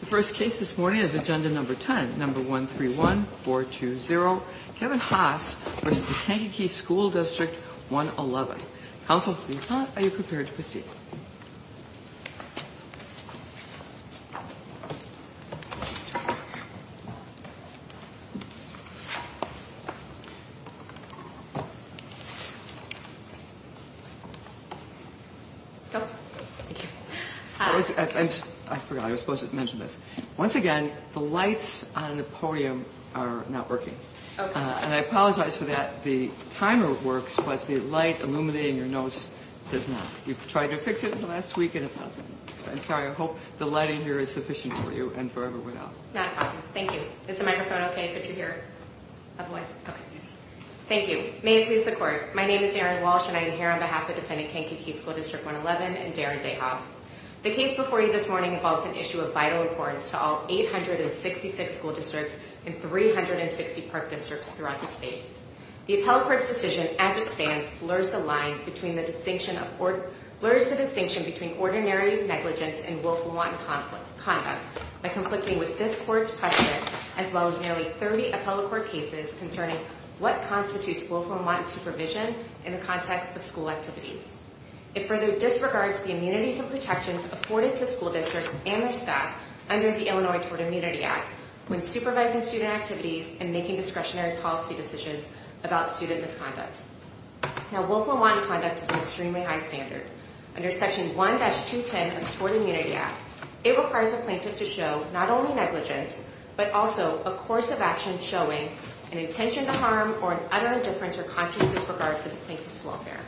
The first case this morning is Agenda Number 10, Number 131420, Kevin Haase v. Kankakee School District 111. Counsel, please come up. Are you prepared to proceed? Once again, the lights on the podium are not working. And I apologize for that. The timer works, but the light illuminating your notes does not. You've tried to fix it in the last week and it's not working. I'm sorry. I hope the lighting here is sufficient for you and for everyone else. Not a problem. Thank you. Is the microphone okay that you're here? Otherwise, okay. Thank you. May it please the court. My name is Erin Walsh and I am here on behalf of Defendant Kankakee School District 111 and Darren Dayhoff. The case before you this morning involves an issue of vital importance to all 866 school districts and 360 park districts throughout the state. The appellate court's decision as it stands blurs the distinction between ordinary negligence and willful and wanton conduct by conflicting with this court's precedent, as well as nearly 30 appellate court cases concerning what constitutes willful and wanton supervision in the context of school activities. It further disregards the immunities and protections afforded to school districts and their staff under the Illinois Tort Immunity Act when supervising student activities and making discretionary policy decisions about student misconduct. Now, willful and wanton conduct is an extremely high standard. Under section 1-210 of the Tort Immunity Act, it requires a plaintiff to show not only negligence, but also a course of action showing an intention to harm or an utter indifference or conscious disregard for the plaintiff's welfare.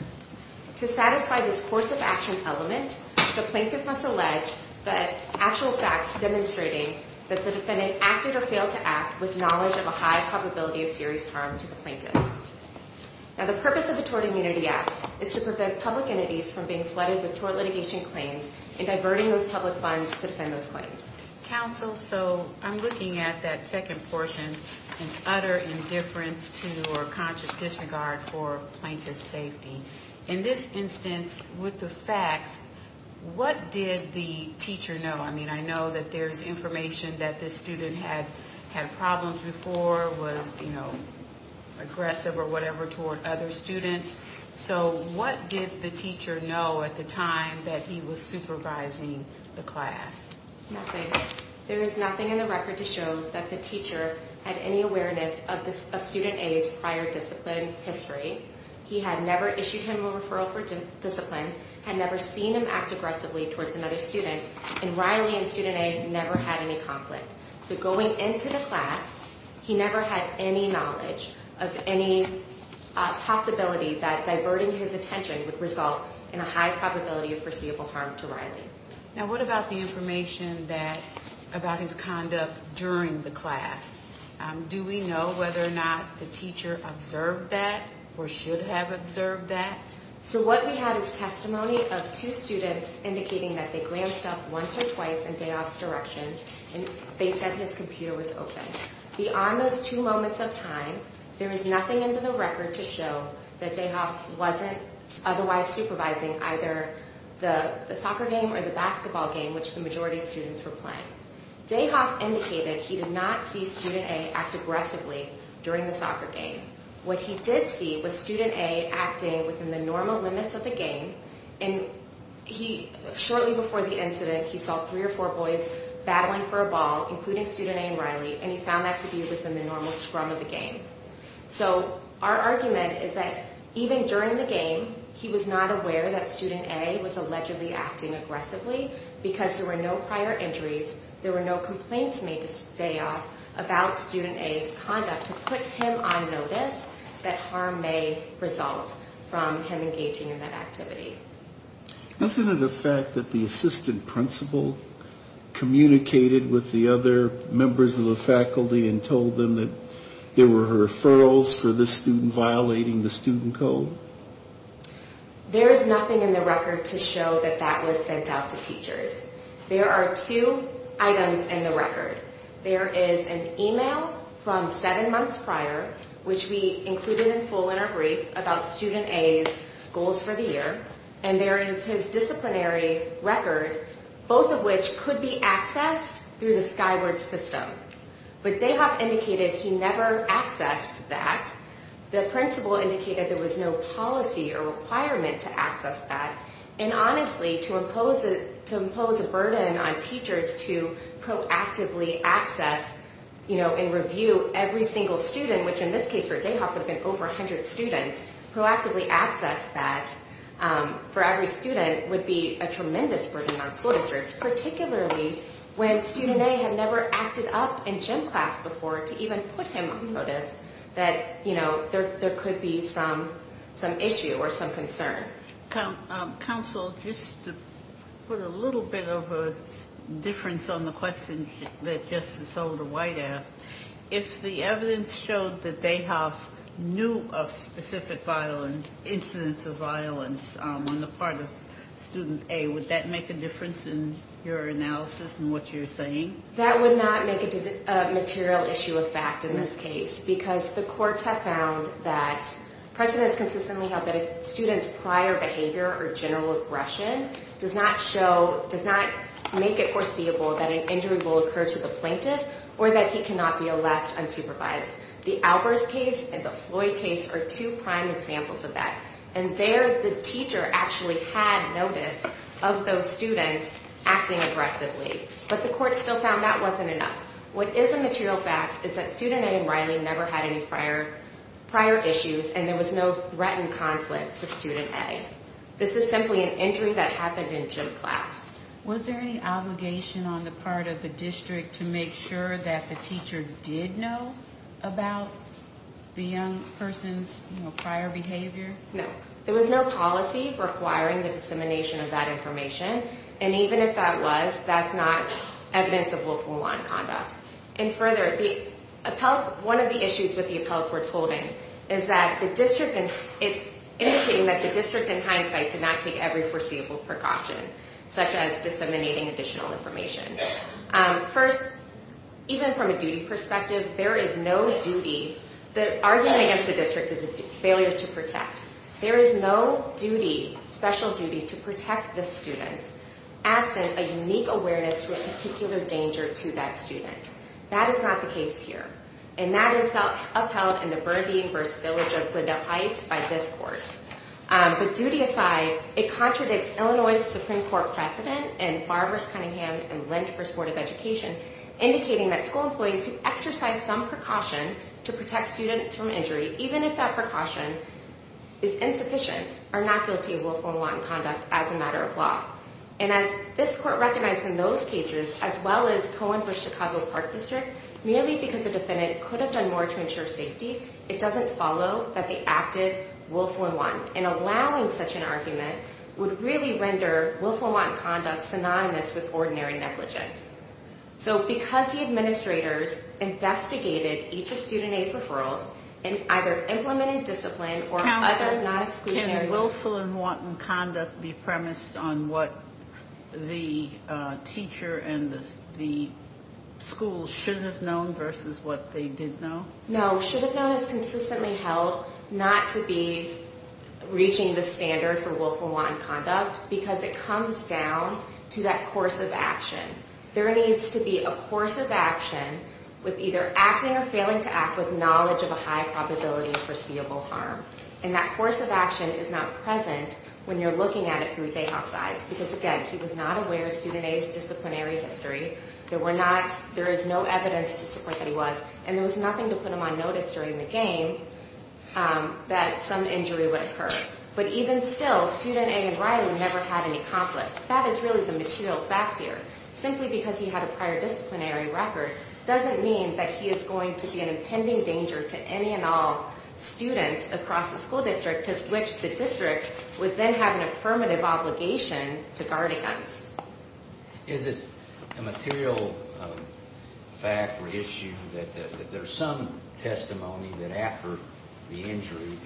To satisfy this course of action element, the plaintiff must allege that actual facts demonstrating that the defendant acted or failed to act with knowledge of a high probability of serious harm to the plaintiff. Now, the purpose of the Tort Immunity Act is to prevent public entities from being flooded with tort litigation claims and diverting those public funds to defend those claims. Counsel, so I'm looking at that second portion, an utter indifference to or conscious disregard for plaintiff's safety. In this instance, with the facts, what did the teacher know? I mean, I know that there's information that this student had problems before, was aggressive or whatever toward other students. So what did the teacher know at the time that he was supervising the class? Nothing. There is nothing in the record to show that the teacher had any awareness of student A's prior discipline history. He had never issued him a referral for discipline, had never seen him act aggressively towards another student, and Riley and student A never had any conflict. So going into the class, he never had any knowledge of any possibility that diverting his attention would result in a high probability of foreseeable harm to Riley. Now, what about the information about his conduct during the class? Do we know whether or not the teacher observed that or should have observed that? So what we have is testimony of two students indicating that they glanced up once or twice in Dayoff's direction and they said his computer was open. Beyond those two moments of time, there is nothing in the record to show that Dayoff wasn't otherwise supervising either the soccer game or the basketball game, which the majority of students were playing. Dayoff indicated he did not see student A act aggressively during the soccer game. What he did see was student A acting within the normal limits of the game. And shortly before the incident, he saw three or four boys battling for a ball, including student A and Riley, and he found that to be within the normal scrum of the game. So our argument is that even during the game, he was not aware that student A was allegedly acting aggressively because there were no prior injuries. There were no complaints made to Dayoff about student A's conduct to put him on notice that harm may result from him engaging in that activity. Isn't it a fact that the assistant principal communicated with the other members of the faculty and told them that there were referrals for this student violating the student code? There is nothing in the record to show that that was sent out to teachers. There are two items in the record. There is an email from seven months prior, which we included in full in our brief about student A's goals for the year. And there is his disciplinary record, both of which could be accessed through the Skyward system. But Dayoff indicated he never accessed that. The principal indicated there was no policy or requirement to access that. And honestly, to impose a burden on teachers to proactively access and review every single student, which in this case for Dayoff have been over 100 students, proactively access that for every student would be a tremendous burden on school districts. Particularly when student A had never acted up in gym class before to even put him on notice that there could be some issue or some concern. Counsel, just to put a little bit of a difference on the question that Justice Older White asked. If the evidence showed that Dayoff knew of specific violence, incidents of violence on the part of student A, would that make a difference in your analysis and what you're saying? That would not make it a material issue of fact in this case, because the courts have found that precedents consistently held that a student's prior behavior or general aggression does not make it foreseeable that an injury will occur to the plaintiff. Or that he cannot be a left unsupervised. The Albers case and the Floyd case are two prime examples of that. And there the teacher actually had notice of those students acting aggressively. But the court still found that wasn't enough. What is a material fact is that student A and Riley never had any prior issues, and there was no threatened conflict to student A. This is simply an injury that happened in gym class. Was there any obligation on the part of the district to make sure that the teacher did know about the young person's prior behavior? No, there was no policy requiring the dissemination of that information. And even if that was, that's not evidence of local law and conduct. And further, one of the issues with the appellate court's holding is that the district, it's indicating that the district in hindsight did not take every foreseeable precaution, such as disseminating additional information. First, even from a duty perspective, there is no duty. The argument against the district is a failure to protect. There is no duty, special duty to protect the student absent a unique awareness to a particular danger to that student. That is not the case here. And that is upheld in the Burbee versus Village of Glendale Heights by this court. But duty aside, it contradicts Illinois Supreme Court precedent and Barber's Cunningham and Lynch for Supportive Education indicating that school employees who exercise some precaution to protect students from injury, even if that precaution is insufficient, are not guilty of willful and wanton conduct as a matter of law. And as this court recognized in those cases, as well as Cohen versus Chicago Park District, merely because a defendant could have done more to ensure safety, it doesn't follow that they acted willful and wanton. And allowing such an argument would really render willful and wanton conduct synonymous with ordinary negligence. So because the administrators investigated each of student aid's referrals and either implemented discipline or other non-exclusionary- Can willful and wanton conduct be premised on what the teacher and the school should have known versus what they did know? No, should have known is consistently held not to be reaching the standard for willful and wanton conduct because it comes down to that course of action. There needs to be a course of action with either acting or failing to act with knowledge of a high probability of foreseeable harm. And that course of action is not present when you're looking at it through Dayhoff's eyes. Because again, he was not aware of student A's disciplinary history. There is no evidence to support that he was. And there was nothing to put him on notice during the game that some injury would occur. But even still, student A and Riley never had any conflict. That is really the material fact here. Simply because he had a prior disciplinary record doesn't mean that he is going to be an impending danger to any and all students across the school district, to which the district would then have an affirmative obligation to guardians. Is it a material fact or issue that there's some testimony that after the injury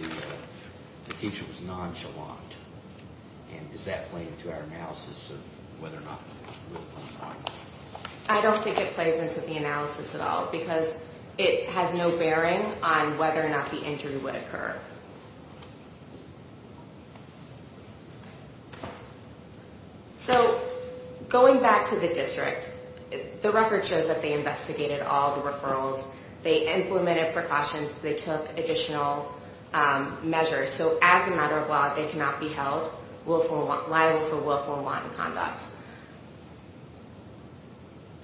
the teacher was nonchalant? And does that play into our analysis of whether or not there was real conflict? I don't think it plays into the analysis at all, because it has no bearing on whether or not the injury would occur. So going back to the district, the record shows that they investigated all the referrals. They implemented precautions. They took additional measures. So as a matter of law, they cannot be held liable for willful and wanton conduct.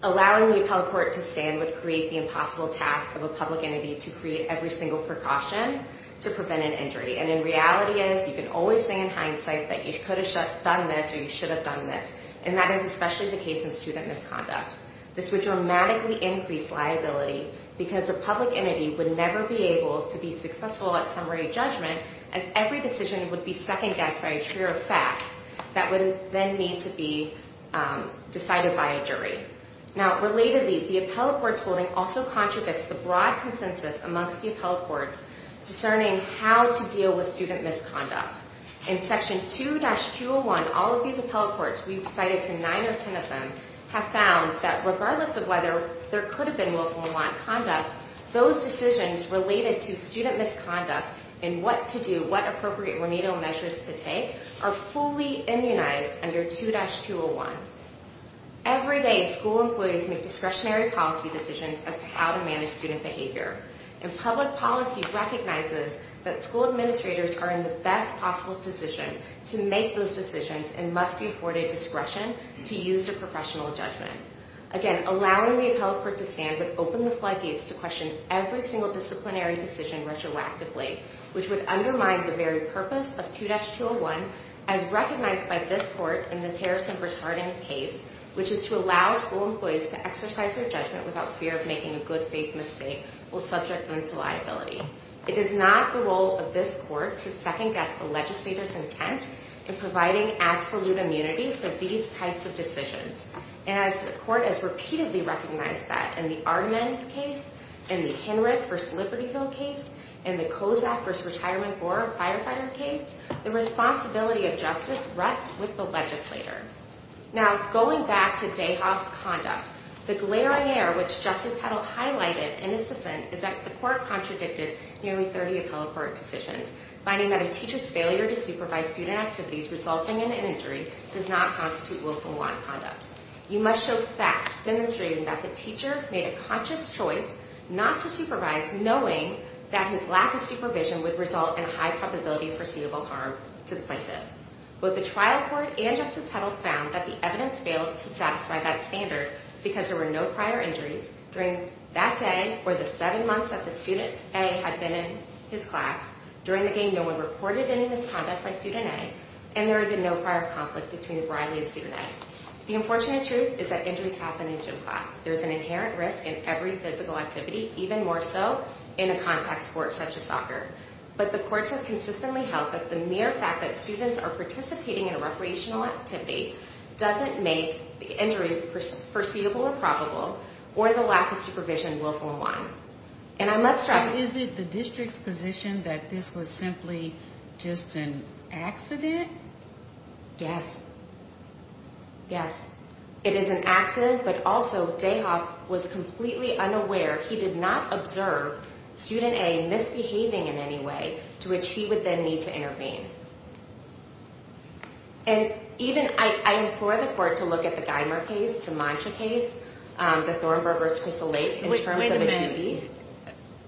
Allowing the appellate court to stand would create the impossible task of a public entity to create every single precaution to prevent an injury. And in reality is, you can always say in hindsight that you could have done this or you should have done this. And that is especially the case in student misconduct. This would dramatically increase liability because a public entity would never be able to be successful at summary judgment, as every decision would be second guessed by a jury of fact that would then need to be decided by a jury. Now, relatedly, the appellate court's holding also contradicts the broad consensus amongst the appellate courts discerning how to deal with student misconduct. In section 2-201, all of these appellate courts, we've cited to nine or ten of them, have found that regardless of whether there could have been willful or wanton conduct, those decisions related to student misconduct and what to do, what appropriate remedial measures to take, are fully immunized under 2-201. Every day, school employees make discretionary policy decisions as to how to manage student behavior. And public policy recognizes that school administrators are in the best possible position to make those decisions and must be afforded discretion to use their professional judgment. Again, allowing the appellate court to stand would open the floodgates to question every single disciplinary decision retroactively, which would undermine the very purpose of 2-201, as recognized by this court in Ms. Harrison-Bretardian's case, which is to allow school employees to exercise their judgment without fear of making a good faith mistake while subjecting them to liability. It is not the role of this court to second guess the legislator's intent in providing absolute immunity for these types of decisions. And as the court has repeatedly recognized that in the Ardman case, in the Henrich versus Libertyville case, in the Kozak versus Retirement Board firefighter case, the responsibility of justice rests with the legislator. Now, going back to Dayhoff's conduct, the glare on air which Justice Hedl highlighted in his dissent is that the court contradicted nearly 30 appellate court decisions, finding that a teacher's failure to supervise student activities resulting in an injury does not constitute willful wrong conduct. You must show facts demonstrating that the teacher made a conscious choice not to supervise, knowing that his lack of supervision would result in a high probability of foreseeable harm to the plaintiff. Both the trial court and Justice Hedl found that the evidence failed to satisfy that standard because there were no prior injuries during that day or the seven months that the student A had been in his class. During the game, no one reported any misconduct by student A. And there had been no prior conflict between O'Reilly and student A. The unfortunate truth is that injuries happen in gym class. There's an inherent risk in every physical activity, even more so in a contact sport such as soccer. But the courts have consistently held that the mere fact that students are participating in a recreational activity doesn't make the injury foreseeable or probable, or the lack of supervision willful and wrong. And I must stress- The district's position that this was simply just an accident? Yes, yes, it is an accident, but also Dayhoff was completely unaware. He did not observe student A misbehaving in any way, to which he would then need to intervene. And even, I implore the court to look at the Geimer case, the Mantra case, the Thornburg versus Crystal Lake in terms of a duty.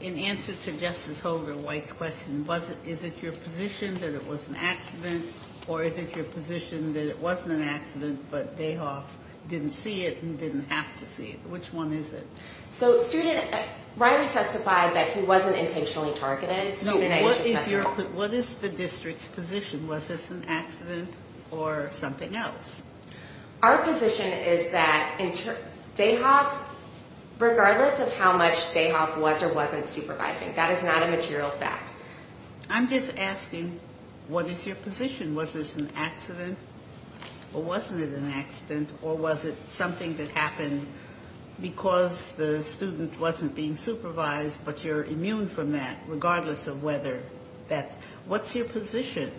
In answer to Justice Holger White's question, was it, is it your position that it was an accident? Or is it your position that it wasn't an accident, but Dayhoff didn't see it and didn't have to see it? Which one is it? So student, Ryder testified that he wasn't intentionally targeted. No, what is your, what is the district's position? Was this an accident or something else? Our position is that Dayhoff's, regardless of how much Dayhoff was or wasn't supervising, that is not a material fact. I'm just asking, what is your position? Was this an accident, or wasn't it an accident? Or was it something that happened because the student wasn't being supervised, but you're immune from that, regardless of whether that, what's your position?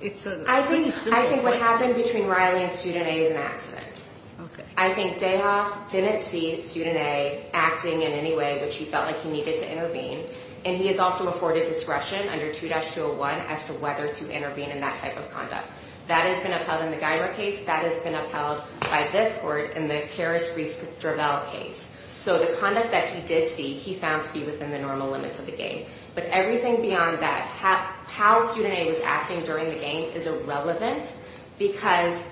It's a pretty simple question. I think what happened between Riley and student A is an accident. Okay. I think Dayhoff didn't see student A acting in any way which he felt like he needed to intervene. And he has also afforded discretion under 2-201 as to whether to intervene in that type of conduct. That has been upheld in the Geimer case. That has been upheld by this court in the Karras-Rees-Drabel case. So the conduct that he did see, he found to be within the normal limits of the game. But everything beyond that, how student A was acting during the game is irrelevant because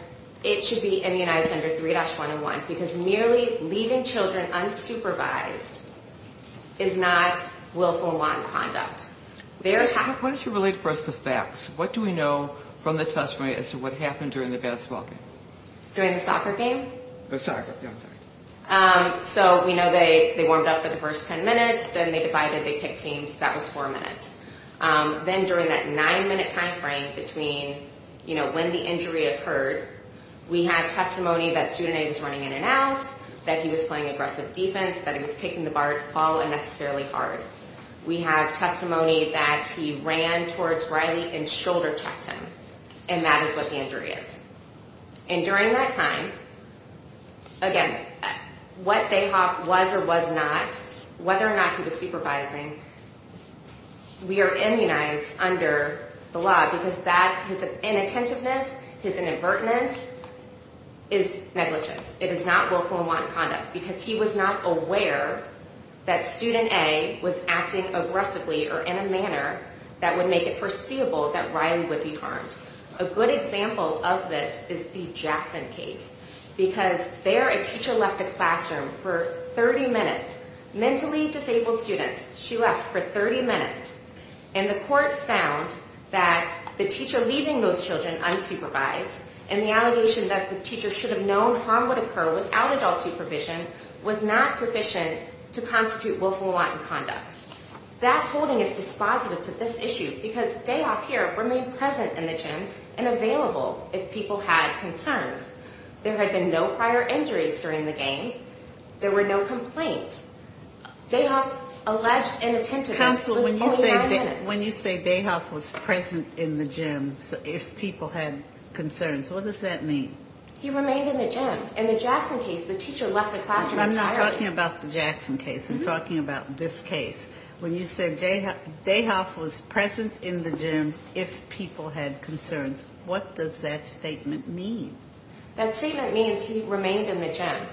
it should be immunized under 3-101. Because merely leaving children unsupervised is not willful and wanton conduct. What is your relate for us to facts? What do we know from the testimony as to what happened during the basketball game? During the soccer game? The soccer, yeah, I'm sorry. So we know they warmed up for the first 10 minutes, then they divided, they kicked teams. That was 4 minutes. Then during that 9-minute time frame between, you know, when the injury occurred, we have testimony that student A was running in and out, that he was playing aggressive defense, that he was kicking the ball unnecessarily hard. We have testimony that he ran towards Riley and shoulder checked him. And that is what the injury is. And during that time, again, what Dayhoff was or was not, whether or not he was supervising, we are immunized under the law because that, his inattentiveness, his inadvertence is negligence. It is not willful and wanton conduct. Because he was not aware that student A was acting aggressively or in a manner that would make it foreseeable that Riley would be harmed. A good example of this is the Jackson case. Because there, a teacher left the classroom for 30 minutes, mentally disabled students. She left for 30 minutes. And the court found that the teacher leaving those children unsupervised and the allegation that the teacher should have known harm would occur without adult supervision was not sufficient to constitute willful and wanton conduct. That holding is dispositive to this issue because Dayhoff here remained present in the gym and available if people had concerns. There had been no prior injuries during the game. There were no complaints. Dayhoff alleged inattentiveness. Counsel, when you say Dayhoff was present in the gym if people had concerns, what does that mean? He remained in the gym. In the Jackson case, the teacher left the classroom entirely. I'm not talking about the Jackson case. I'm talking about this case. When you say Dayhoff was present in the gym if people had concerns, what does that statement mean? That statement means he remained in the gym.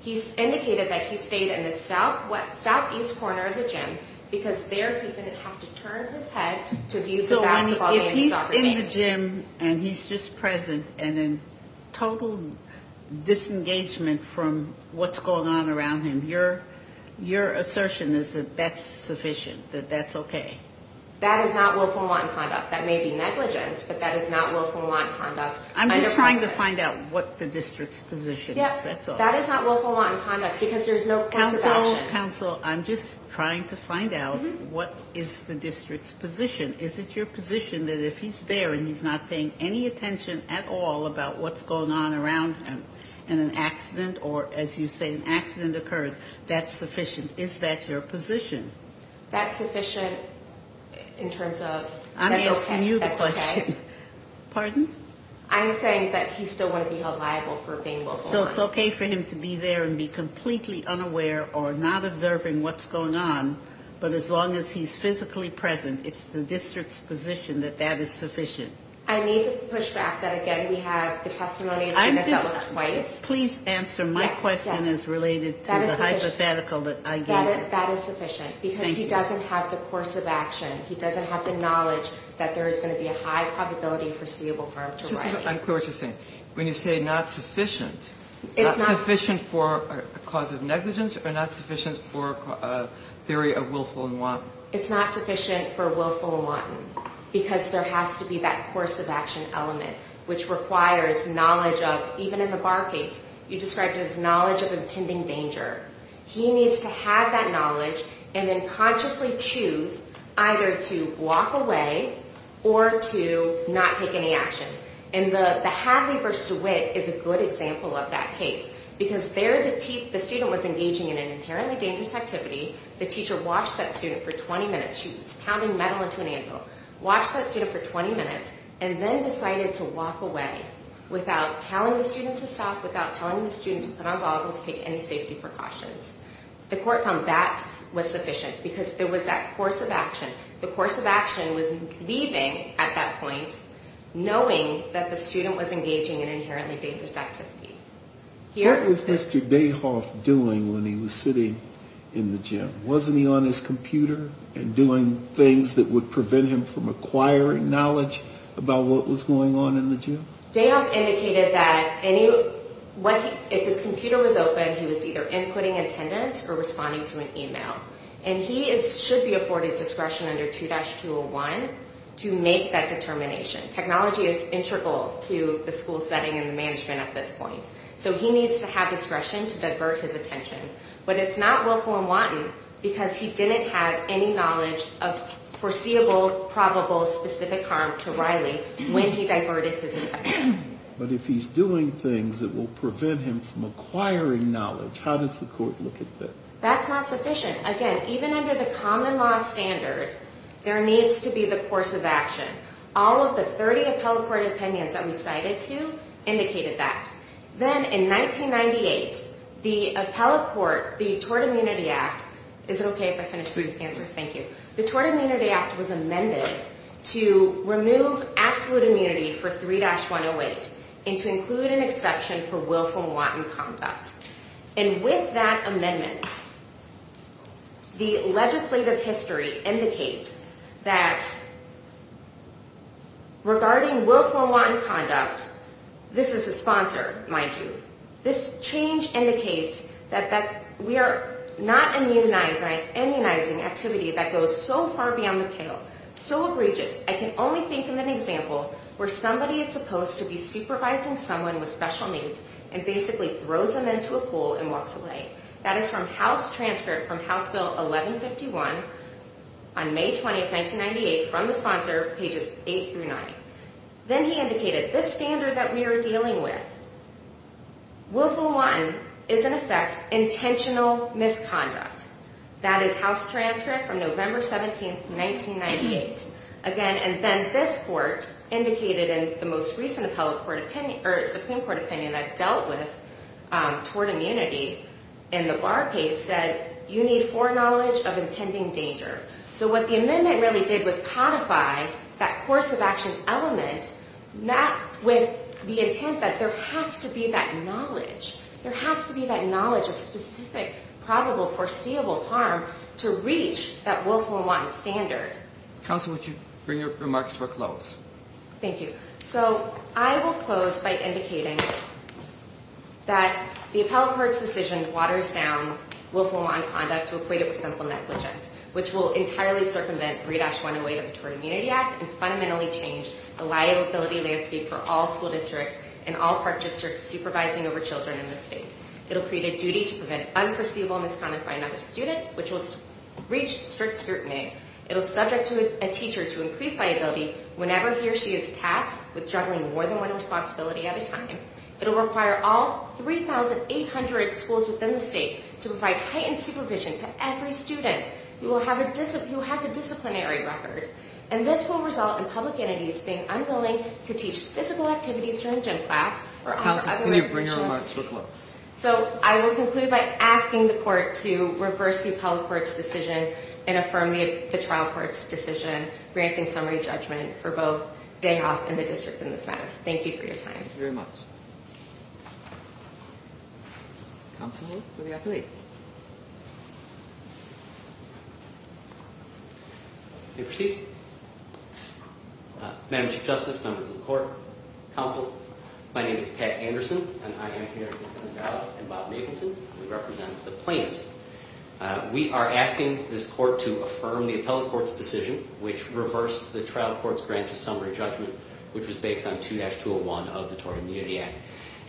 He's indicated that he stayed in the southeast corner of the gym because there he didn't have to turn his head to abuse the basketball game. So if he's in the gym and he's just present and in total disengagement from what's going on around him, your assertion is that that's sufficient, that that's okay? That is not willful and wanton conduct. That may be negligence, but that is not willful and wanton conduct. I'm just trying to find out what the district's position is. That is not willful and wanton conduct because there's no course of action. Counsel, I'm just trying to find out what is the district's position. Is it your position that if he's there and he's not paying any attention at all about what's going on around him and an accident, or as you say, an accident occurs, that's sufficient? Is that your position? That's sufficient in terms of that's okay. I'm asking you the question. Pardon? I'm saying that he still wouldn't be held liable for being willful and wanton. So it's okay for him to be there and be completely unaware or not observing what's going on, but as long as he's physically present, it's the district's position that that is sufficient? I need to push back that again we have the testimony that's been developed twice. Please answer my question as related to the hypothetical that I gave you. That is sufficient because he doesn't have the course of action. He doesn't have the knowledge that there is going to be a high probability of foreseeable harm to Ryan. I'm clear what you're saying. When you say not sufficient, not sufficient for a cause of negligence or not sufficient for a theory of willful and wanton? It's not sufficient for willful and wanton because there has to be that course of action element which requires knowledge of, even in the Barr case, you described it as knowledge of impending danger. He needs to have that knowledge and then consciously choose either to walk away or to not take any action. The Hadley v. DeWitt is a good example of that case because there the student was engaging in an inherently dangerous activity. The teacher watched that student for 20 minutes. She was pounding metal into an anvil, watched that student for 20 minutes and then decided to walk away without telling the student to stop, without telling the student to put on goggles, take any safety precautions. The court found that was sufficient because there was that course of action. The course of action was leaving at that point knowing that the student was engaging in an inherently dangerous activity. What was Mr. Dayhoff doing when he was sitting in the gym? Wasn't he on his computer and doing things that would prevent him from acquiring knowledge about what was going on in the gym? Dayhoff indicated that if his computer was open he was either inputting attendance or responding to an email. And he should be afforded discretion under 2-201 to make that determination. Technology is integral to the school setting and the management at this point. So he needs to have discretion to divert his attention. But it's not willful and wanton because he didn't have any knowledge of foreseeable, probable, specific harm to Riley when he diverted his attention. But if he's doing things that will prevent him from acquiring knowledge, how does the court look at that? That's not sufficient. Again, even under the common law standard there needs to be the course of action. All of the 30 appellate court opinions that we cited to indicated that. Then in 1998 the appellate court, the Tort Immunity Act is it okay if I finish these answers? The Tort Immunity Act was amended to remove absolute immunity for 3-108 and to include an exception for willful and wanton conduct. And with that amendment the legislative history indicates that regarding willful and wanton conduct this is a sponsor, mind you. This change indicates that we are not immunizing activity that goes so far beyond the pale. So egregious. I can only think of an example where somebody is supposed to be supervising someone with special needs and basically throws them into a pool and walks away. That is from House Transcript from House Bill 1151 on May 20, 1998 from the sponsor, pages 8-9. Then he indicated this standard that we are dealing with willful and wanton is in effect intentional misconduct. That is House Transcript from November 17, 1998. Again, and then this court indicated in the most recent Supreme Court opinion that dealt with toward immunity in the bar case said you need foreknowledge of impending danger. So what the amendment really did was codify that course of action element with the intent that there has to be that knowledge. There has to be that knowledge of specific, probable, foreseeable harm to reach that willful and wanton standard. Counsel, would you bring your remarks to a close? Thank you. I will close by indicating that the appellate court's decision waters down willful and wanton conduct to equate it with simple negligence which will entirely circumvent 3-108 of the Toward Immunity Act and fundamentally change the liability landscape for all school districts and all park districts supervising over children in the state. It will create a duty to prevent unforeseeable misconduct by another student which will reach strict scrutiny. It will subject a teacher to increased liability whenever he or she is tasked with juggling more than one responsibility at a time. It will require all 3,800 schools within the state to provide heightened supervision to every student who has a disciplinary record. And this will result in public entities being unwilling to teach physical activities during gym class or other recreational activities. So I will conclude by asking the court to reverse the appellate court's decision and affirm the trial court's decision granting summary judgment for both Danoff and the district in this matter. Thank you for your time. Madam Chief Justice, members of the court, counsel, my name is Pat Anderson and I am here to represent the plaintiffs. We are asking this court to affirm the appellate court's decision which reversed the trial court's grant of summary judgment which was based on 2-201 of the Tory Immunity Act.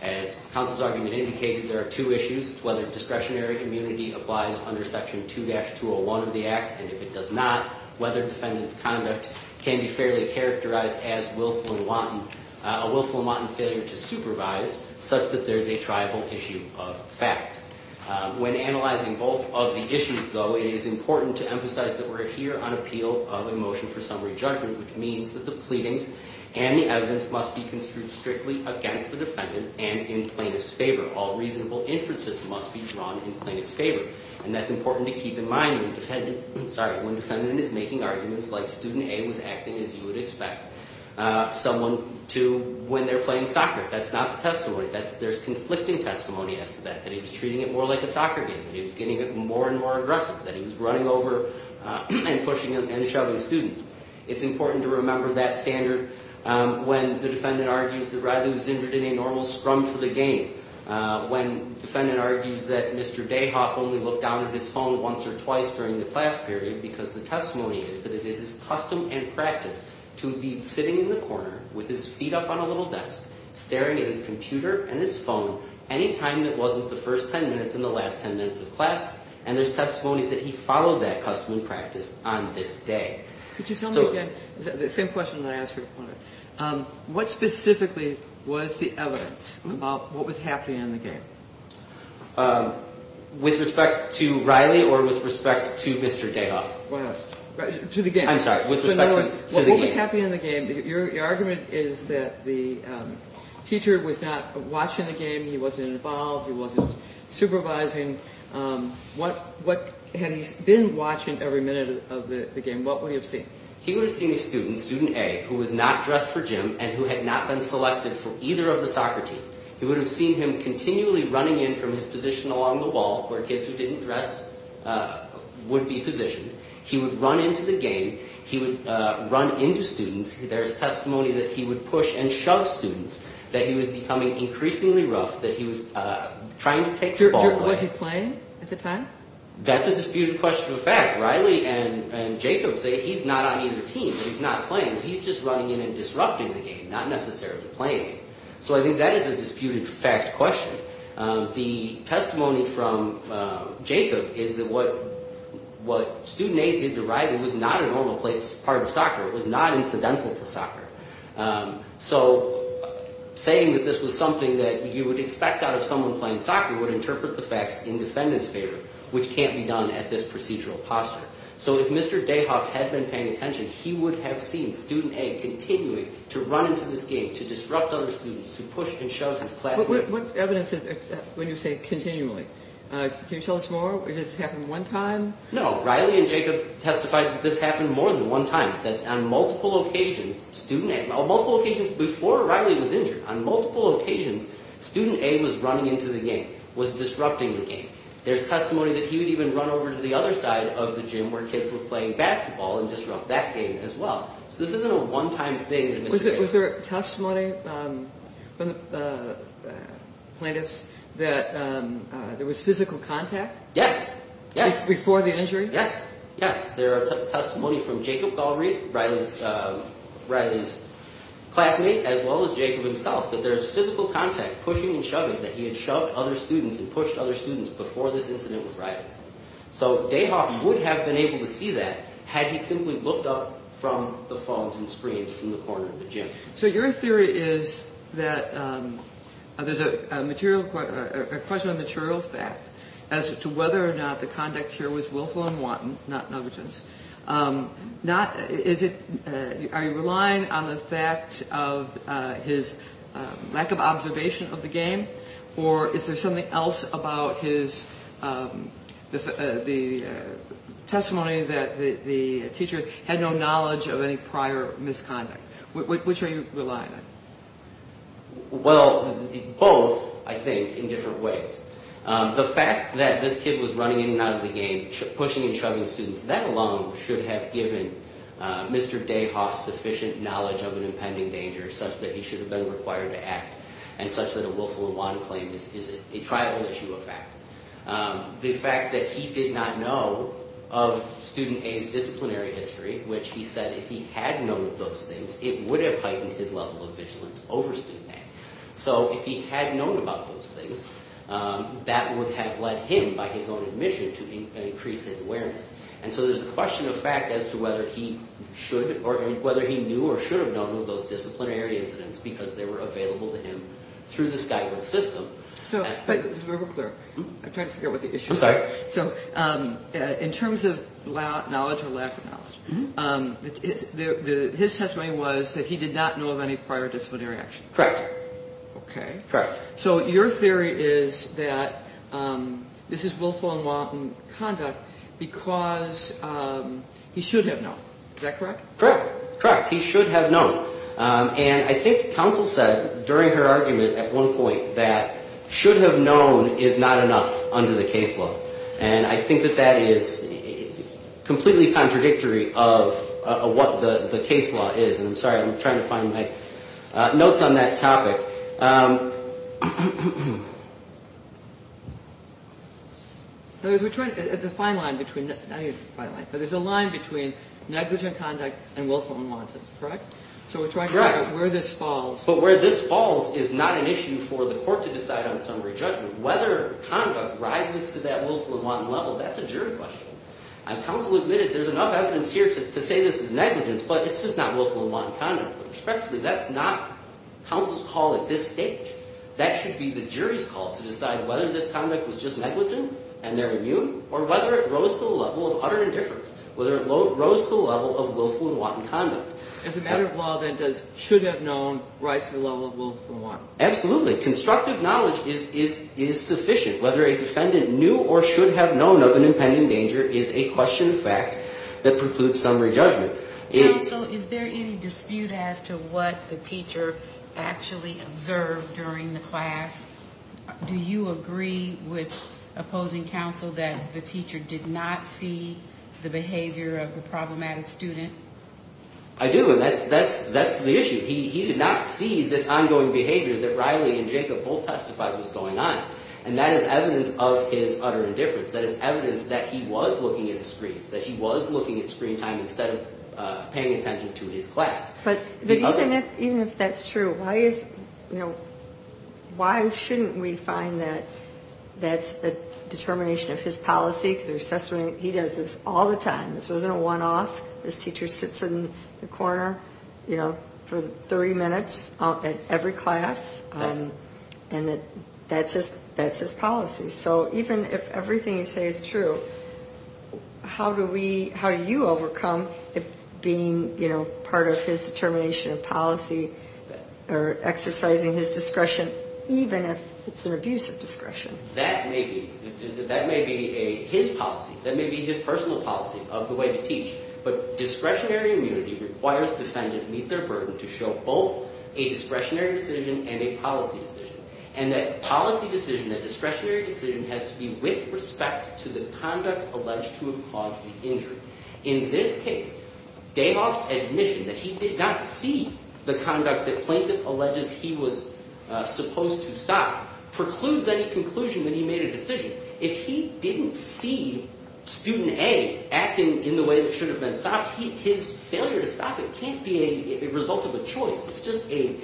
As counsel's argument indicated, there are two issues. Whether discretionary immunity applies under section 2-201 of the Act and if it does not, whether defendant's conduct can be fairly characterized as a willful and wanton failure to supervise such that there is a tribal issue of fact. When analyzing both of the issues, though, it is important to emphasize that we're here on appeal of a motion for summary judgment which means that the pleadings and the evidence must be construed strictly against the defendant and in plaintiff's favor. All reasonable inferences must be drawn in plaintiff's favor. And that's important to keep in mind when defendant is making arguments like student A was acting as you would expect someone to when they're playing soccer. That's not the testimony. There's conflicting testimony as to that. That he was treating it more like a soccer game. That he was getting more and more aggressive. That he was running over and pushing and shoving students. It's important to remember that standard when the defendant argues that Riley was injured in a normal scrum for the game. When defendant argues that Mr. Dayhoff only looked down at his phone once or twice during the class period because the testimony is that it is his custom and practice to be sitting in the corner with his feet up on a little desk, staring at his computer and his phone any time that wasn't the first ten minutes and the last ten minutes of class and there's testimony that he followed that custom and practice on this day. Could you tell me again the same question that I asked your opponent what specifically was the evidence about what was happening in the game? With respect to Riley or with respect to Mr. Dayhoff? To the game. I'm sorry. What was happening in the game your argument is that the teacher was not watching the game. He wasn't involved. He wasn't supervising. Had he been watching every minute of the game what would he have seen? He would have seen a student student A who was not dressed for gym and who had not been selected for either of the soccer team. He would have seen him continually running in from his position along the wall where kids who didn't dress would be positioned. He would run into the game. He would run into students. There's testimony that he would push and shove students. That he was becoming increasingly rough. That he was trying to take the ball away. Was he playing at the time? That's a disputed question of fact. Riley and Jacob say he's not on either team. He's not playing. He's just running in and disrupting the game. Not necessarily playing. So I think that is a disputed fact question. The testimony from Jacob is that what student A did to Riley was not a normal part of soccer. It was not incidental to soccer. So saying that this was something that you would expect out of someone playing soccer would interpret the facts in defendants favor, which can't be done at this procedural posture. So if Mr. Dayhoff had been paying attention, he would have seen student A continuing to run into this game, to disrupt other students to push and shove his classmate. What evidence is there when you say continually? Can you tell us more? Has this happened one time? No. Riley and Jacob testified that this happened more than one time, that on multiple occasions before Riley was injured, on multiple occasions student A was running into the game, was disrupting the game. There's testimony that he would even run over to the other side of the gym where kids were playing basketball and disrupt that game as well. So this isn't a one-time thing. Was there testimony from the plaintiffs that there was physical contact? Yes. Before the injury? Yes. There is testimony from Jacob Galbraith, Riley's classmate, as well as Jacob himself, that there's physical contact pushing and shoving, that he had shoved other students and pushed other students before this incident with Riley. So Dayhoff would have been able to see that had he simply looked up from the phones and screens in the corner of the gym. So your theory is that there's a question on material fact as to whether or not the conduct here was willful and wanton, not negligence. Are you relying on the fact of his lack of observation of the game or is there something else about his testimony that the teacher had no knowledge of any prior misconduct? Which are you relying on? Well both, I think, in different ways. The fact that this kid was running in and out of the game pushing and shoving students, that alone should have given Mr. Dayhoff sufficient knowledge of an impending danger such that he should have been required to act and such that a willful and wanton claim is a tribal issue of fact. The fact that he did not know of student A's disciplinary history which he said if he had known those things, it would have heightened his level of vigilance over student A. So if he had known about those things that would have led him, by his own admission, to increase his awareness. And so there's a question of fact as to whether he should or whether he knew or should have known of those disciplinary incidents because they were available to him through the Skyhook system. I'm trying to figure out what the issue is. In terms of knowledge or lack of knowledge his testimony was that he did not know of any prior disciplinary action. Correct. Okay. Correct. So your theory is that this is willful and wanton conduct because he should have known. Is that correct? Correct. Correct. He should have known. And I think counsel said during her argument at one point that should have known is not enough under the case law and I think that that is completely contradictory of what the case law is. I'm sorry. I'm trying to find my notes on that topic. There's a fine line between negligent conduct and willful and wanton. Correct? Correct. But where this falls is not an issue for the court to decide on summary judgment. Whether conduct rises to that willful and wanton level, that's a jury question. Counsel admitted there's enough evidence here to say this is negligence, but it's just not willful and wanton conduct. Respectfully, that's not counsel's call at this stage. That should be the jury's call to decide whether this conduct was just negligent and they're immune or whether it rose to the level of utter indifference. Whether it rose to the level of willful and wanton conduct. As a matter of law, then does should have known rise to the level of willful and wanton? Absolutely. Constructive knowledge is sufficient. Whether a defendant knew or should have known of an impending danger is a question of fact that precludes summary judgment. Counsel, is there any dispute as to what the teacher actually observed during the class? Do you agree with opposing counsel that the teacher did not see the behavior of the problematic student? I do, and that's the issue. He did not see this ongoing behavior that Riley and Jacob both testified was going on. And that is evidence of his utter indifference. That is evidence that he was looking at the screens. That he was looking at screen time instead of paying attention to his class. But even if that's true, why is, you know, why shouldn't we find that that's the determination of his policy? He does this all the time. This wasn't a one-off. This teacher sits in the corner, you know, for 30 minutes at every class. And that's his policy. So even if everything you say is true, how do we, how do you overcome it being, you know, part of his determination of policy, or exercising his discretion, even if it's an abuse of discretion? That may be his policy. That may be his personal policy of the way to teach. But discretionary immunity requires defendants meet their burden to show both a discretionary decision and a policy decision. And that policy decision, that discretionary decision, has to be with respect to the conduct alleged to have caused the injury. In this case, Dayhoff's admission that he did not see the conduct that plaintiff alleges he was supposed to stop precludes any conclusion that he made a decision. If he didn't see student A acting in the way that should have been stopped, his failure to stop it can't be a result of a choice. It's just a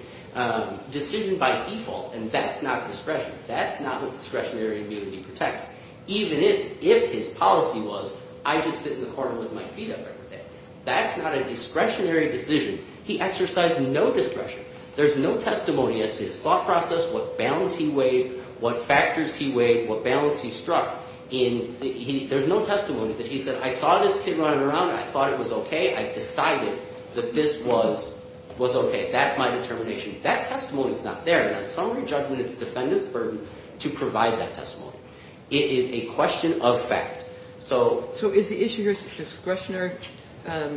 decision by default, and that's not discretion. That's not what discretionary immunity protects. Even if his policy was, I just sit in the corner with my feet up every day. That's not a discretionary decision. He exercised no discretion. There's no testimony as to his thought process, what balance he weighed, what factors he weighed, what balance he struck. There's no testimony that he said, I saw this kid running around and I thought it was okay. I decided that this was okay. That's my determination. That testimony is not there, and on summary judgment it's the defendant's burden to provide that testimony. It is a question of fact. So is the issue here discretionary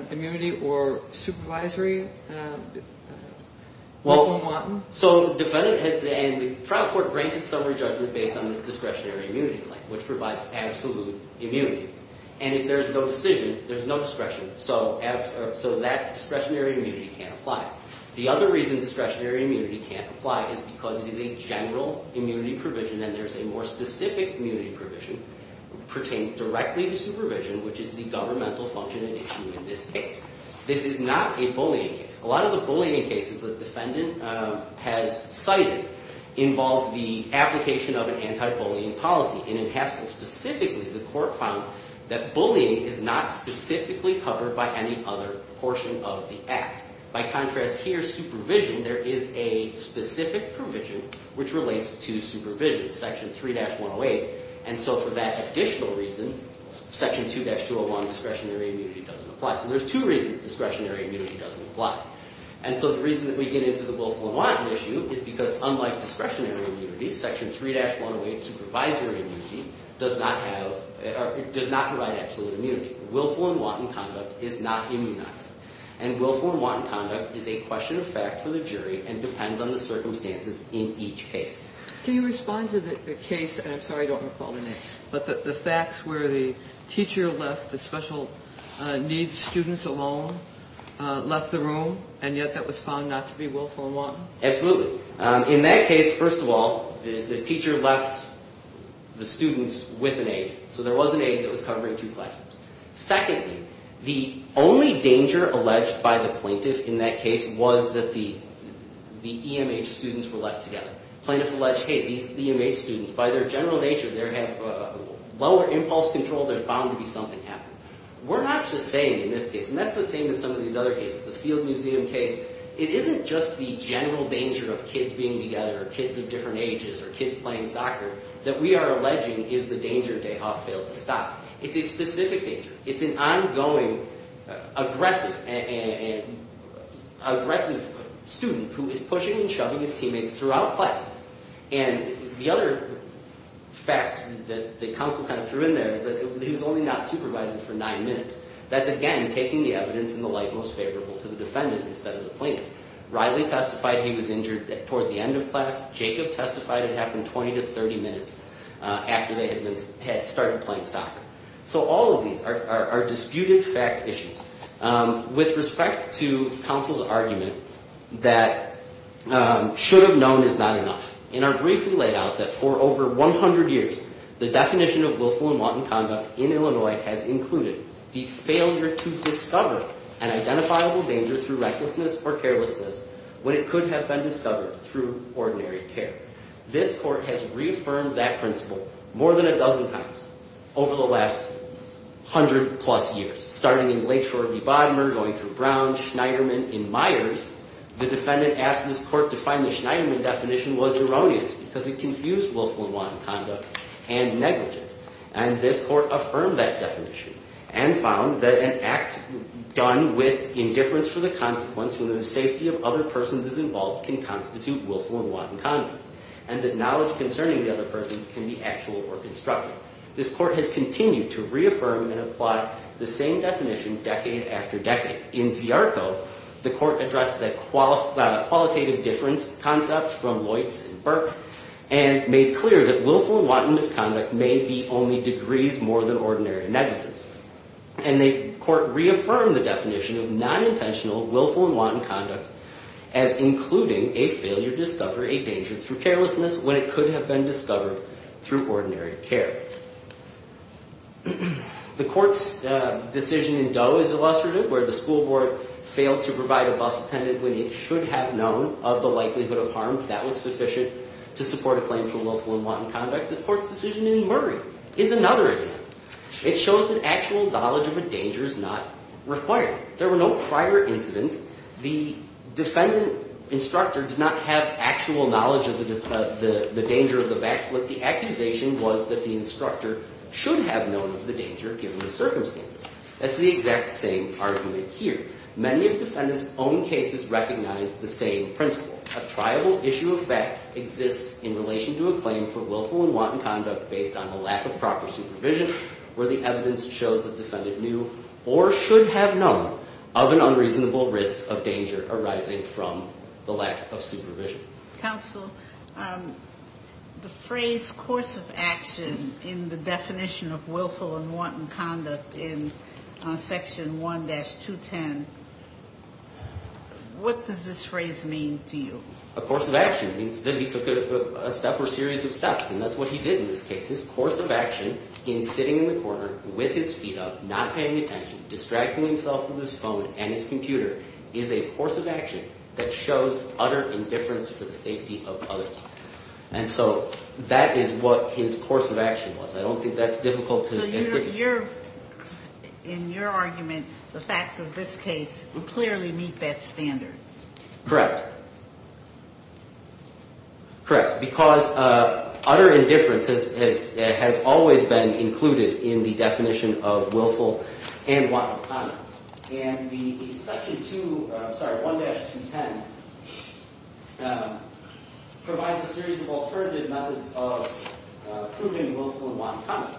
immunity or supervisory? so the defendant has, and the trial court granted summary judgment based on this discretionary immunity claim, which provides absolute immunity. And if there's no decision, there's no discretion. So that discretionary immunity can't apply. The other reason discretionary immunity can't apply is because it is a general immunity provision and there's a more specific immunity provision, pertains directly to supervision, which is the governmental function and issue in this case. This is not a bullying case. A lot of the bullying cases the defendant has cited involve the application of an anti-bullying policy, and in Haskell specifically the court found that bullying is not specifically covered by any other portion of the act. By contrast here, supervision there is a specific provision which relates to supervision section 3-108, and so for that additional reason section 2-201 discretionary immunity doesn't apply. So there's two reasons discretionary immunity doesn't apply. And so the reason that we get into the willful and wanton issue is because unlike discretionary immunity, section 3-108 supervisory immunity does not have does not provide absolute immunity. Willful and wanton conduct is not immunity, and willful and wanton conduct is a question of fact for the jury and depends on the circumstances in each case. Can you respond to the case, and I'm sorry I don't recall the name, but the facts where the teacher left the special needs students alone left the room, and yet that was found not to be willful and wanton? Absolutely. In that case, first of all the teacher left the students with an aide, so there was an aide that was covering two classrooms. Secondly, the only danger alleged by the plaintiff in that case was that the EMH students were left together. Plaintiff alleged, hey, these EMH students by their general nature, they have lower impulse control, there's bound to be something happening. We're not just saying in this case, and that's the same as some of these other cases, the Field Museum case, it isn't just the general danger of kids being together or kids of different ages or kids playing soccer that we are alleging is the danger Dayhoff failed to stop. It's a specific danger. It's an ongoing aggressive student who is pushing and shoving his teammates throughout class. And the other fact that counsel kind of threw in there is that he was only not supervising for nine minutes. That's again taking the evidence in the light most favorable to the defendant instead of the plaintiff. Riley testified he was injured toward the end of class. Jacob testified it happened 20 to 30 minutes after they had started playing soccer. So all of these are disputed fact issues. With respect to counsel's argument that should have known is not enough, in our brief we laid out that for over 100 years, the definition of willful and wanton conduct in Illinois has included the failure to discover an identifiable danger through recklessness or carelessness when it could have been discovered through ordinary care. This court has reaffirmed that principle more than a dozen times over the last 100 plus years, starting in Lakeshore v. Bodmer, going through Brown, Schneiderman in Myers. The defendant asked this court to find the Schneiderman definition was erroneous because it confused willful and wanton conduct and negligence. And this court affirmed that definition and found that an act done with indifference for the consequence when the knowledge of other persons is involved can constitute willful and wanton conduct. And that knowledge concerning the other persons can be actual or constructive. This court has continued to reaffirm and apply the same definition decade after decade. In Ziarko, the court addressed the qualitative difference concepts from Loitz and Burke and made clear that willful and wanton misconduct may be only degrees more than ordinary negligence. And the court reaffirmed the definition of non-intentional willful and wanton conduct as including a failure to discover a danger through carelessness when it could have been discovered through ordinary care. The court's decision in Doe is illustrative where the school board failed to provide a bus attendant when it should have known of the likelihood of harm that was sufficient to support a claim for willful and wanton conduct. This court's decision in Murray is another example. It shows that actual knowledge of the danger is not required. There were no prior incidents. The defendant instructor did not have actual knowledge of the danger of the back flip. The accusation was that the instructor should have known of the danger given the circumstances. That's the exact same argument here. Many of defendant's own cases recognize the same principle. A triable issue of fact exists in relation to a claim for willful and wanton conduct based on a lack of proper supervision where the evidence shows the defendant knew or should have known of an unreasonable risk of danger arising from the lack of supervision. Counsel, the phrase course of action in the definition of willful and wanton conduct in section 1-210, what does this phrase mean to you? A course of action means that he took a step or series of steps and that's what he did in this case. His course of action in sitting in the corner with his feet up, not paying attention, distracting himself with his phone and his computer is a course of action that shows utter indifference for the safety of others. And so that is what his course of action was. I don't think that's difficult to In your argument, the facts of this case clearly meet that standard. Correct. Correct. Because utter indifference has always been included in the definition of willful and wanton conduct. And the section 2, sorry, 1-210 provides a series of alternative methods of proving willful and wanton conduct.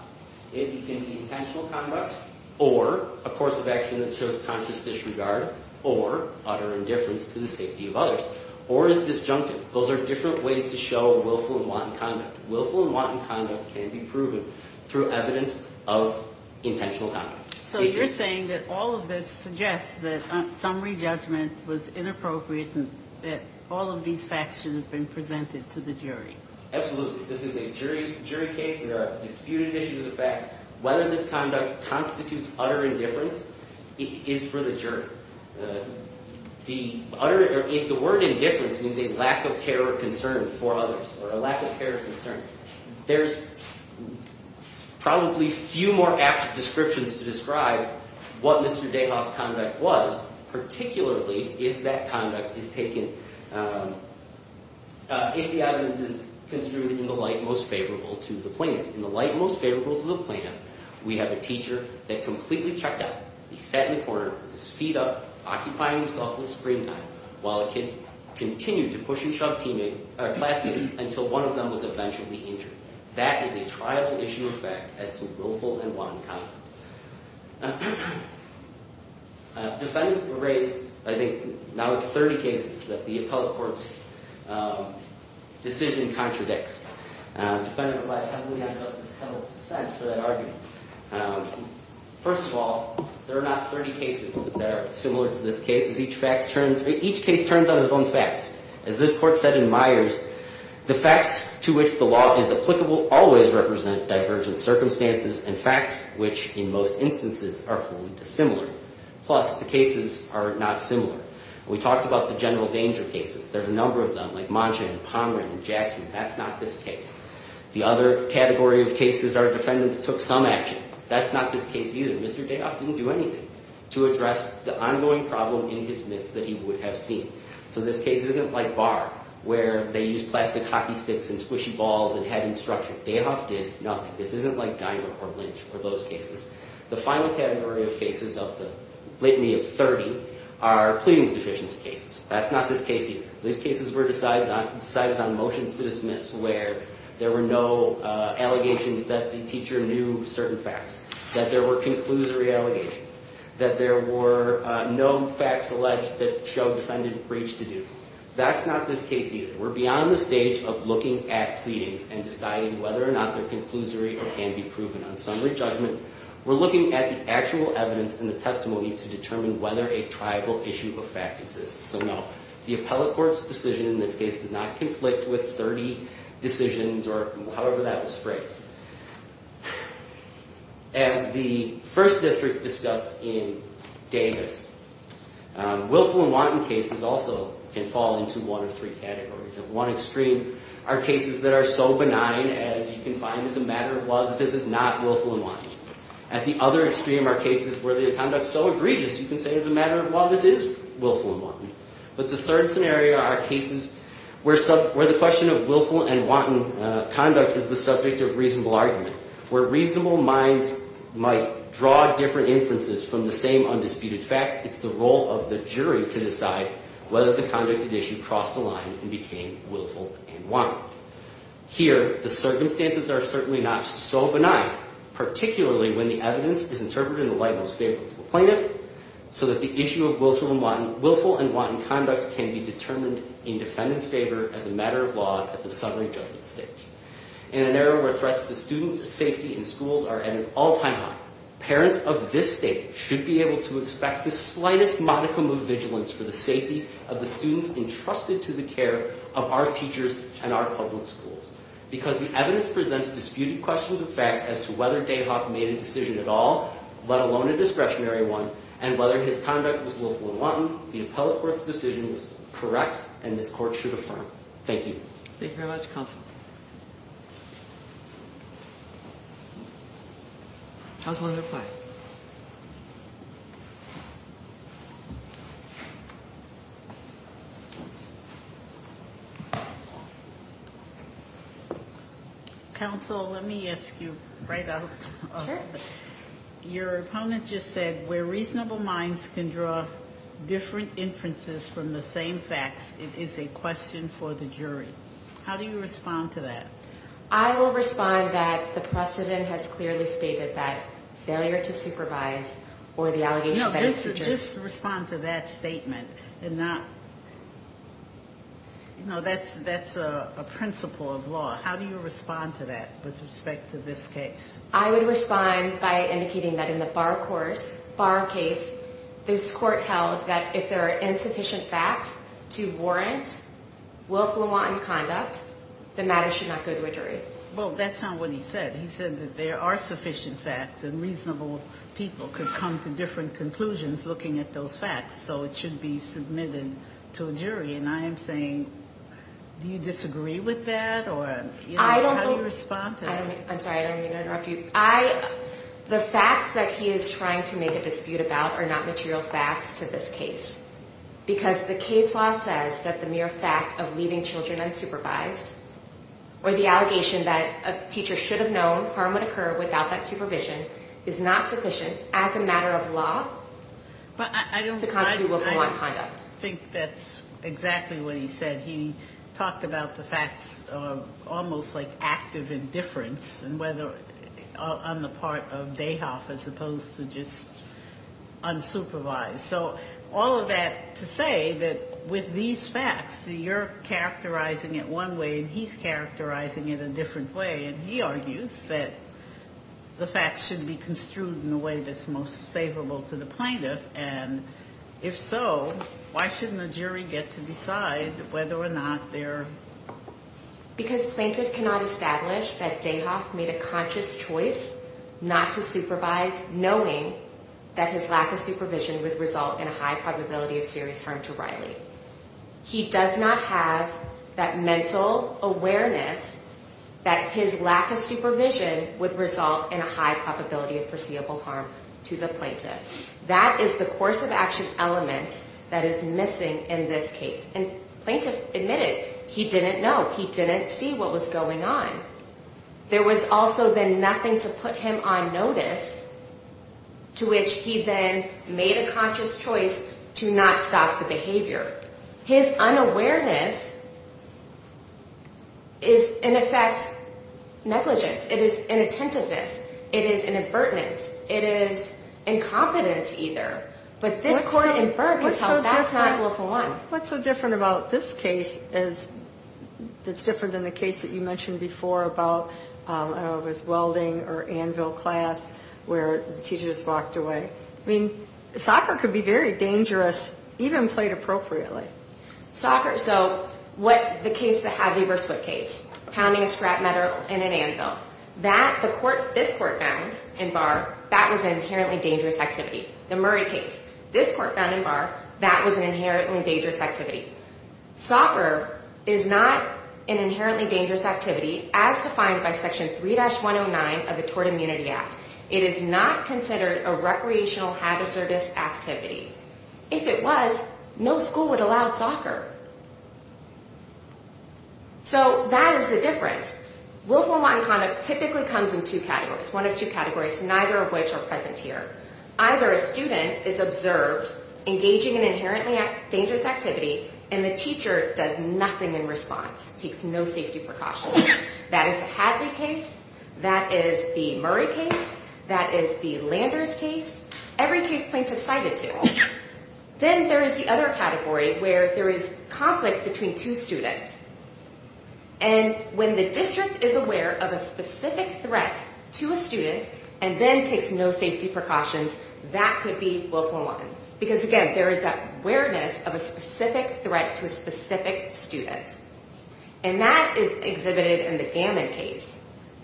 It can be intentional conduct or a course of action that shows conscious disregard or utter indifference to the safety of others or is disjunctive. Those are different ways to show willful and wanton conduct. Willful and wanton conduct can be proven through evidence of intentional conduct. So you're saying that all of this suggests that summary judgment was inappropriate and that all of these facts should have been presented to the jury. Absolutely. This is a jury case and there are disputed issues of the fact whether this conduct constitutes utter indifference is for the jury. The word indifference means a lack of care or concern for others or a lack of care or concern. There's probably few more apt descriptions to describe what Mr. DeHaas' conduct was, particularly if that conduct is taken if the evidence is construed in the light most favorable to the plaintiff. In the light most favorable to the plaintiff, we have a teacher that completely checked out. He sat in the corner with his feet up occupying himself with springtime while a kid continued to push and shove classmates until one of them was eventually injured. That is a triable issue of fact as to willful and wanton conduct. Defendants were raised I think now it's 30 cases that the appellate court's decision contradicts. Defendants were raised heavily on Justice Kettle's dissent for that argument. First of all, there are not 30 cases that are similar to this case. Each case turns on its own facts. As this court said in Myers, the facts to which the law is applicable always represent divergent circumstances and facts which, in most instances, are wholly dissimilar. Plus, the cases are not similar. We talked about the general danger cases. There's a number of them, like Monshan and Pomerant and Jackson. That's not this case. The other category of cases, our defendants took some action. That's not this case either. Mr. Dayhoff didn't do anything to address the ongoing problem in his midst that he would have seen. So this case isn't like Barr, where they used plastic hockey sticks and squishy balls and had instruction. Dayhoff did nothing. This isn't like Geimer or Lynch or those cases. The final category of cases of the litany of 30 are pleading sufficiency cases. That's not this case either. These cases were decided on motions to dismiss where there were no allegations that the teacher knew certain facts, that there were conclusory allegations, that there were no facts alleged that showed defendant breach to do. That's not this case either. We're beyond the stage of looking at pleadings and deciding whether or not they're conclusory or can be proven. On summary judgment, we're looking at the actual evidence in the testimony to determine whether a tribal issue of fact exists. So no, the appellate court's decision in this case does not conflict with 30 decisions or however that was phrased. As the First District discussed in Davis, willful and wanton cases also can fall into one of three categories. At one extreme are cases that are so benign as you can find as a matter of law that this is not willful and wanton. At the other extreme are cases where the conduct's so egregious you can say as a matter of law this is willful and wanton. But the third scenario are cases where the question of willful and wanton conduct is the subject of reasonable argument. Where reasonable minds might draw different inferences from the same undisputed facts, it's the role of the jury to decide whether the conduct at issue crossed the line and became willful and wanton. Here, the circumstances are certainly not so benign, particularly when the evidence is interpreted in the light most favorable to the plaintiff so that the issue of willful and wanton conduct can be determined in defendant's favor as a matter of law at the summary judgment stage. In an era where threats to students' safety in schools are at an all-time high, parents of this state should be able to expect the slightest modicum of vigilance for the safety of the students entrusted to the care of our teachers and our public schools because the evidence presents disputed questions of fact as to whether Dayhoff made a decision at all, let alone a discretionary one, and whether his conduct was willful and wanton, the court should affirm. Thank you. Thank you very much, Counsel. Counsel, you may reply. Counsel, let me ask you right out. Sure. Your opponent just said where reasonable minds can draw different inferences from the same facts, it is a question for the jury. How do you respond to that? I will respond that the precedent has clearly stated that failure to supervise or the allegation No, just respond to that statement and not No, that's a principle of law. How do you respond to that with respect to this case? I would respond by indicating that in the Barr case, this court held that if there are insufficient facts to warrant willful and wanton conduct, the matter should not go to a jury. That's not what he said. He said that there are sufficient facts and reasonable people could come to different conclusions looking at those facts, so it should be submitted to a jury. I am saying, do you disagree with that? How do you respond to that? I'm sorry, I don't mean to interrupt you. The facts that he is trying to make a dispute about are not material facts to this case because the case law says that the mere fact of leaving children unsupervised or the allegation that a teacher should have known harm would occur without that supervision is not sufficient as a matter of law to constitute willful and wanton conduct. I think that's exactly what he said. He talked about the facts almost like active indifference on the part of Dayhoff as opposed to just unsupervised. All of that to say that with these facts, you're characterizing it one way and he's characterizing it a different way. He argues that the facts should be construed in a way that's most favorable to the plaintiff and if so, why shouldn't the jury get to decide whether or not they're... Because plaintiff cannot establish that Dayhoff made a conscious choice not to supervise knowing that his lack of supervision would result in a high probability of serious harm to Riley. He does not have that mental awareness that his lack of supervision would result in a high probability of foreseeable harm to the plaintiff. That is the course of action element that is missing in this case and plaintiff admitted he didn't know. He didn't see what was going on. There was also then nothing to put him on notice to which he then made a conscious choice to not stop the behavior. His unawareness is in effect negligence. It is inattentiveness. It is an avertment. It is incompetence either. But this court inferred that's not Wolf and One. What's so different about this case that's I don't know if it was welding or anvil class where the teacher just walked away. I mean soccer could be very dangerous even played appropriately. Soccer, so what the case, the Harvey vs. Wood case pounding a scrap metal in an anvil that the court, this court found in Barr, that was an inherently dangerous activity. The Murray case, this court found in Barr, that was an inherently dangerous activity. Soccer is not an inherently dangerous activity as defined by section 3-109 of the Tort Immunity Act. It is not considered a recreational hazardous activity. If it was, no school would allow soccer. So that is the difference. Willful unwanted conduct typically comes in two categories. One of two categories, neither of which are present here. Either a student is observed engaging in inherently dangerous activity and the teacher does nothing in response. Takes no safety precautions. That is the Hadley case, that is the Murray case, that is the Landers case. Every case plaintiff cited two. Then there is the other category where there is conflict between two students and when the district is aware of a specific threat to a student and then takes no safety precautions that could be willful unwanted. Because again, there is that awareness of a specific threat to a specific student. And that is exhibited in the Gammon case.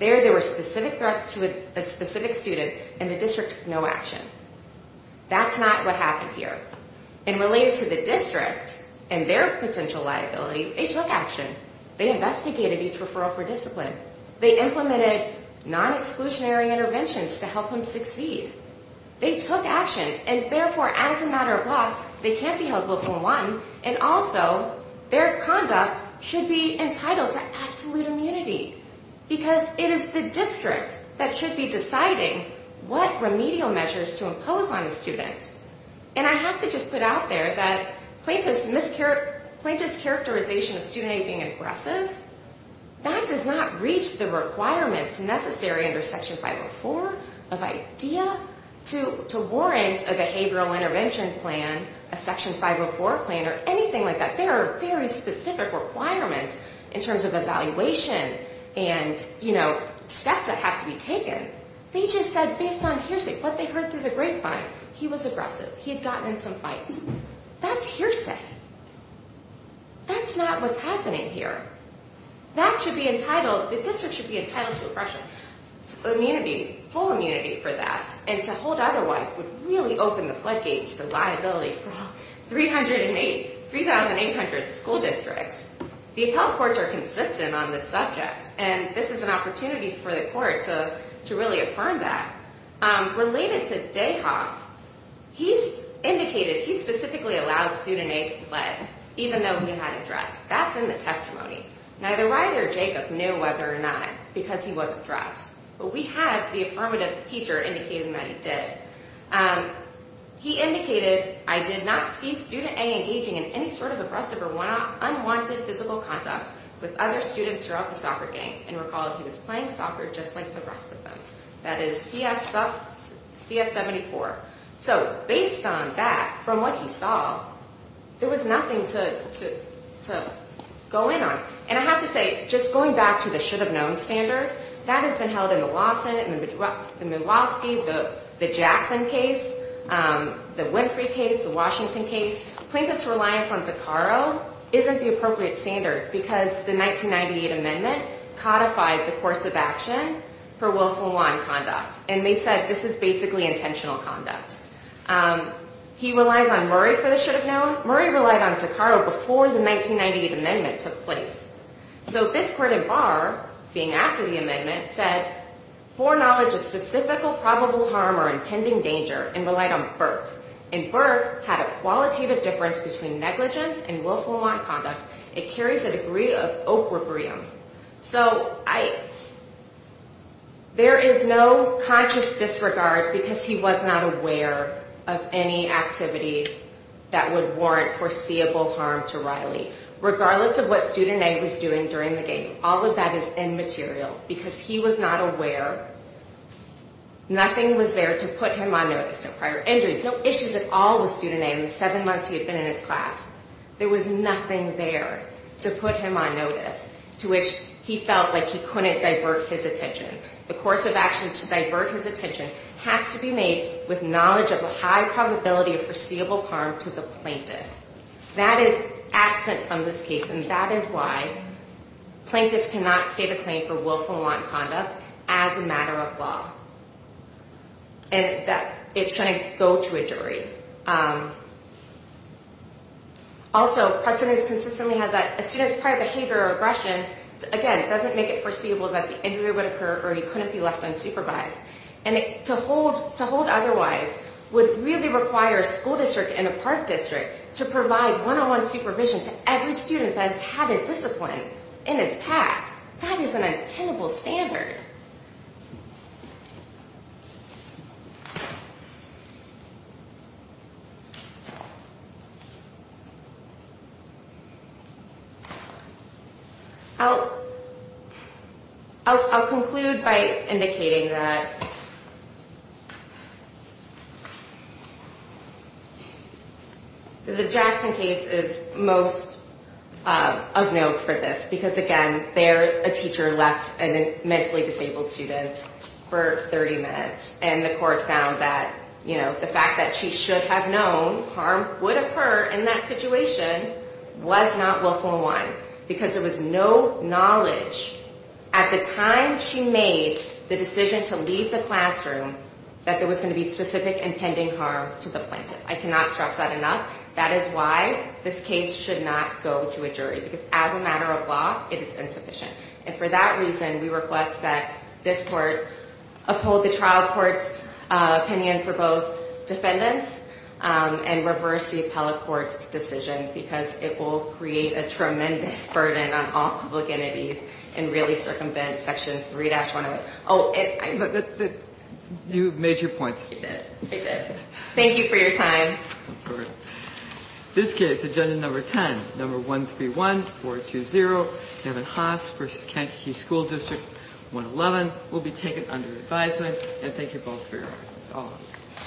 There, there were specific threats to a specific student and the district took no action. That's not what happened here. And related to the district and their potential liability, they took action. They investigated each referral for discipline. They implemented non-exclusionary interventions to help them succeed. They took action and therefore as a matter of law, they can't be held willful unwanted and also their conduct should be entitled to absolute immunity. Because it is the district that should be deciding what remedial measures to impose on a student. And I have to just put out there that plaintiff's characterization of student aid being aggressive, that does not reach the requirements necessary under Section 504 of IDEA to warrant a behavioral intervention plan, a Section 504 plan, or anything like that. There are very specific requirements in terms of evaluation and, you know, steps that have to be taken. They just said based on hearsay, what they heard through the grapevine, he was aggressive. He had gotten in some fights. That's hearsay. That's not what's happening here. That should be entitled, the district should be entitled to full immunity for that, and to hold otherwise would really open the floodgates to liability for all 3,800 school districts. The appellate courts are consistent on this subject, and this is an opportunity for the court to really affirm that. Related to Dayhoff, he's indicated he specifically allowed student aid to be led, even though he had addressed. That's in the testimony. Neither Ryder or Jacob knew whether or not, because he wasn't addressed, but we have the affirmative teacher indicating that he did. He indicated, I did not see student aid engaging in any sort of aggressive or unwanted physical contact with other students throughout the soccer game, and recall he was playing soccer just like the rest of them. That is CS74. So, based on that, from what he saw, there was nothing to go in on. And I have to say, just going back to the should-have-known standard, that has been held in the Law Senate, in the Milwaukee, the Jackson case, the Winfrey case, the Washington case. Plaintiff's reliance on Zuccaro isn't the appropriate standard, because the 1998 amendment codified the course of action for willful nonconduct, and they said this is basically intentional conduct. He relies on Murray for the should-have-known. Murray relied on Zuccaro before the 1998 amendment took place. So, this court in Barr, being after the amendment, said foreknowledge of specific or probable harm or impending danger, and relied on Burke. And Burke had a qualitative difference between negligence and willful nonconduct. It carries a degree of opprobrium. So, I, there is no conscious disregard, because he was not aware of any activity that would warrant foreseeable harm to Riley. Regardless of what student A was doing during the game, all of that is immaterial, because he was not aware. was there to put him on notice. No prior injuries, no issues at all with student A in the seven months he had been in his class. There was nothing there to put him on notice, to which he felt like he couldn't divert his attention. The course of action to divert his attention has to be made with knowledge of a high probability of foreseeable harm to the plaintiff. That is absent from this case, and that is why plaintiffs cannot state a claim for willful nonconduct as a matter of law. And that, it shouldn't go to a jury. Also, precedents consistently have that a student's prior behavior or aggression, again, doesn't make it foreseeable that the injury would occur, or he couldn't be left unsupervised. And to hold otherwise would really require a school district and a park district to provide one-on-one supervision to every student that has had a discipline in his past. That is an untenable standard. I'll conclude by indicating that the Jackson case is most of note for this because, again, there a teacher left a mentally disabled student for 30 minutes and the court found that the fact that she should have known harm would occur in that situation was not willful in line because there was no knowledge at the time she made the decision to leave the classroom that there was going to be specific and pending harm to the plaintiff. I cannot stress that enough. That is why this case should not go to a jury because as a matter of law, it is insufficient. And for that reason, we request that this court uphold the trial court's opinion for both defendants and reverse the appellate court's decision because it will create a tremendous burden on all public entities and really circumvent section 3-101. You made your point. I did. Thank you for your time. In this case, agenda number 10, number 131, 420, Kevin Haas v. Kankakee School District, 111 will be taken under advisement. Thank you both for your arguments.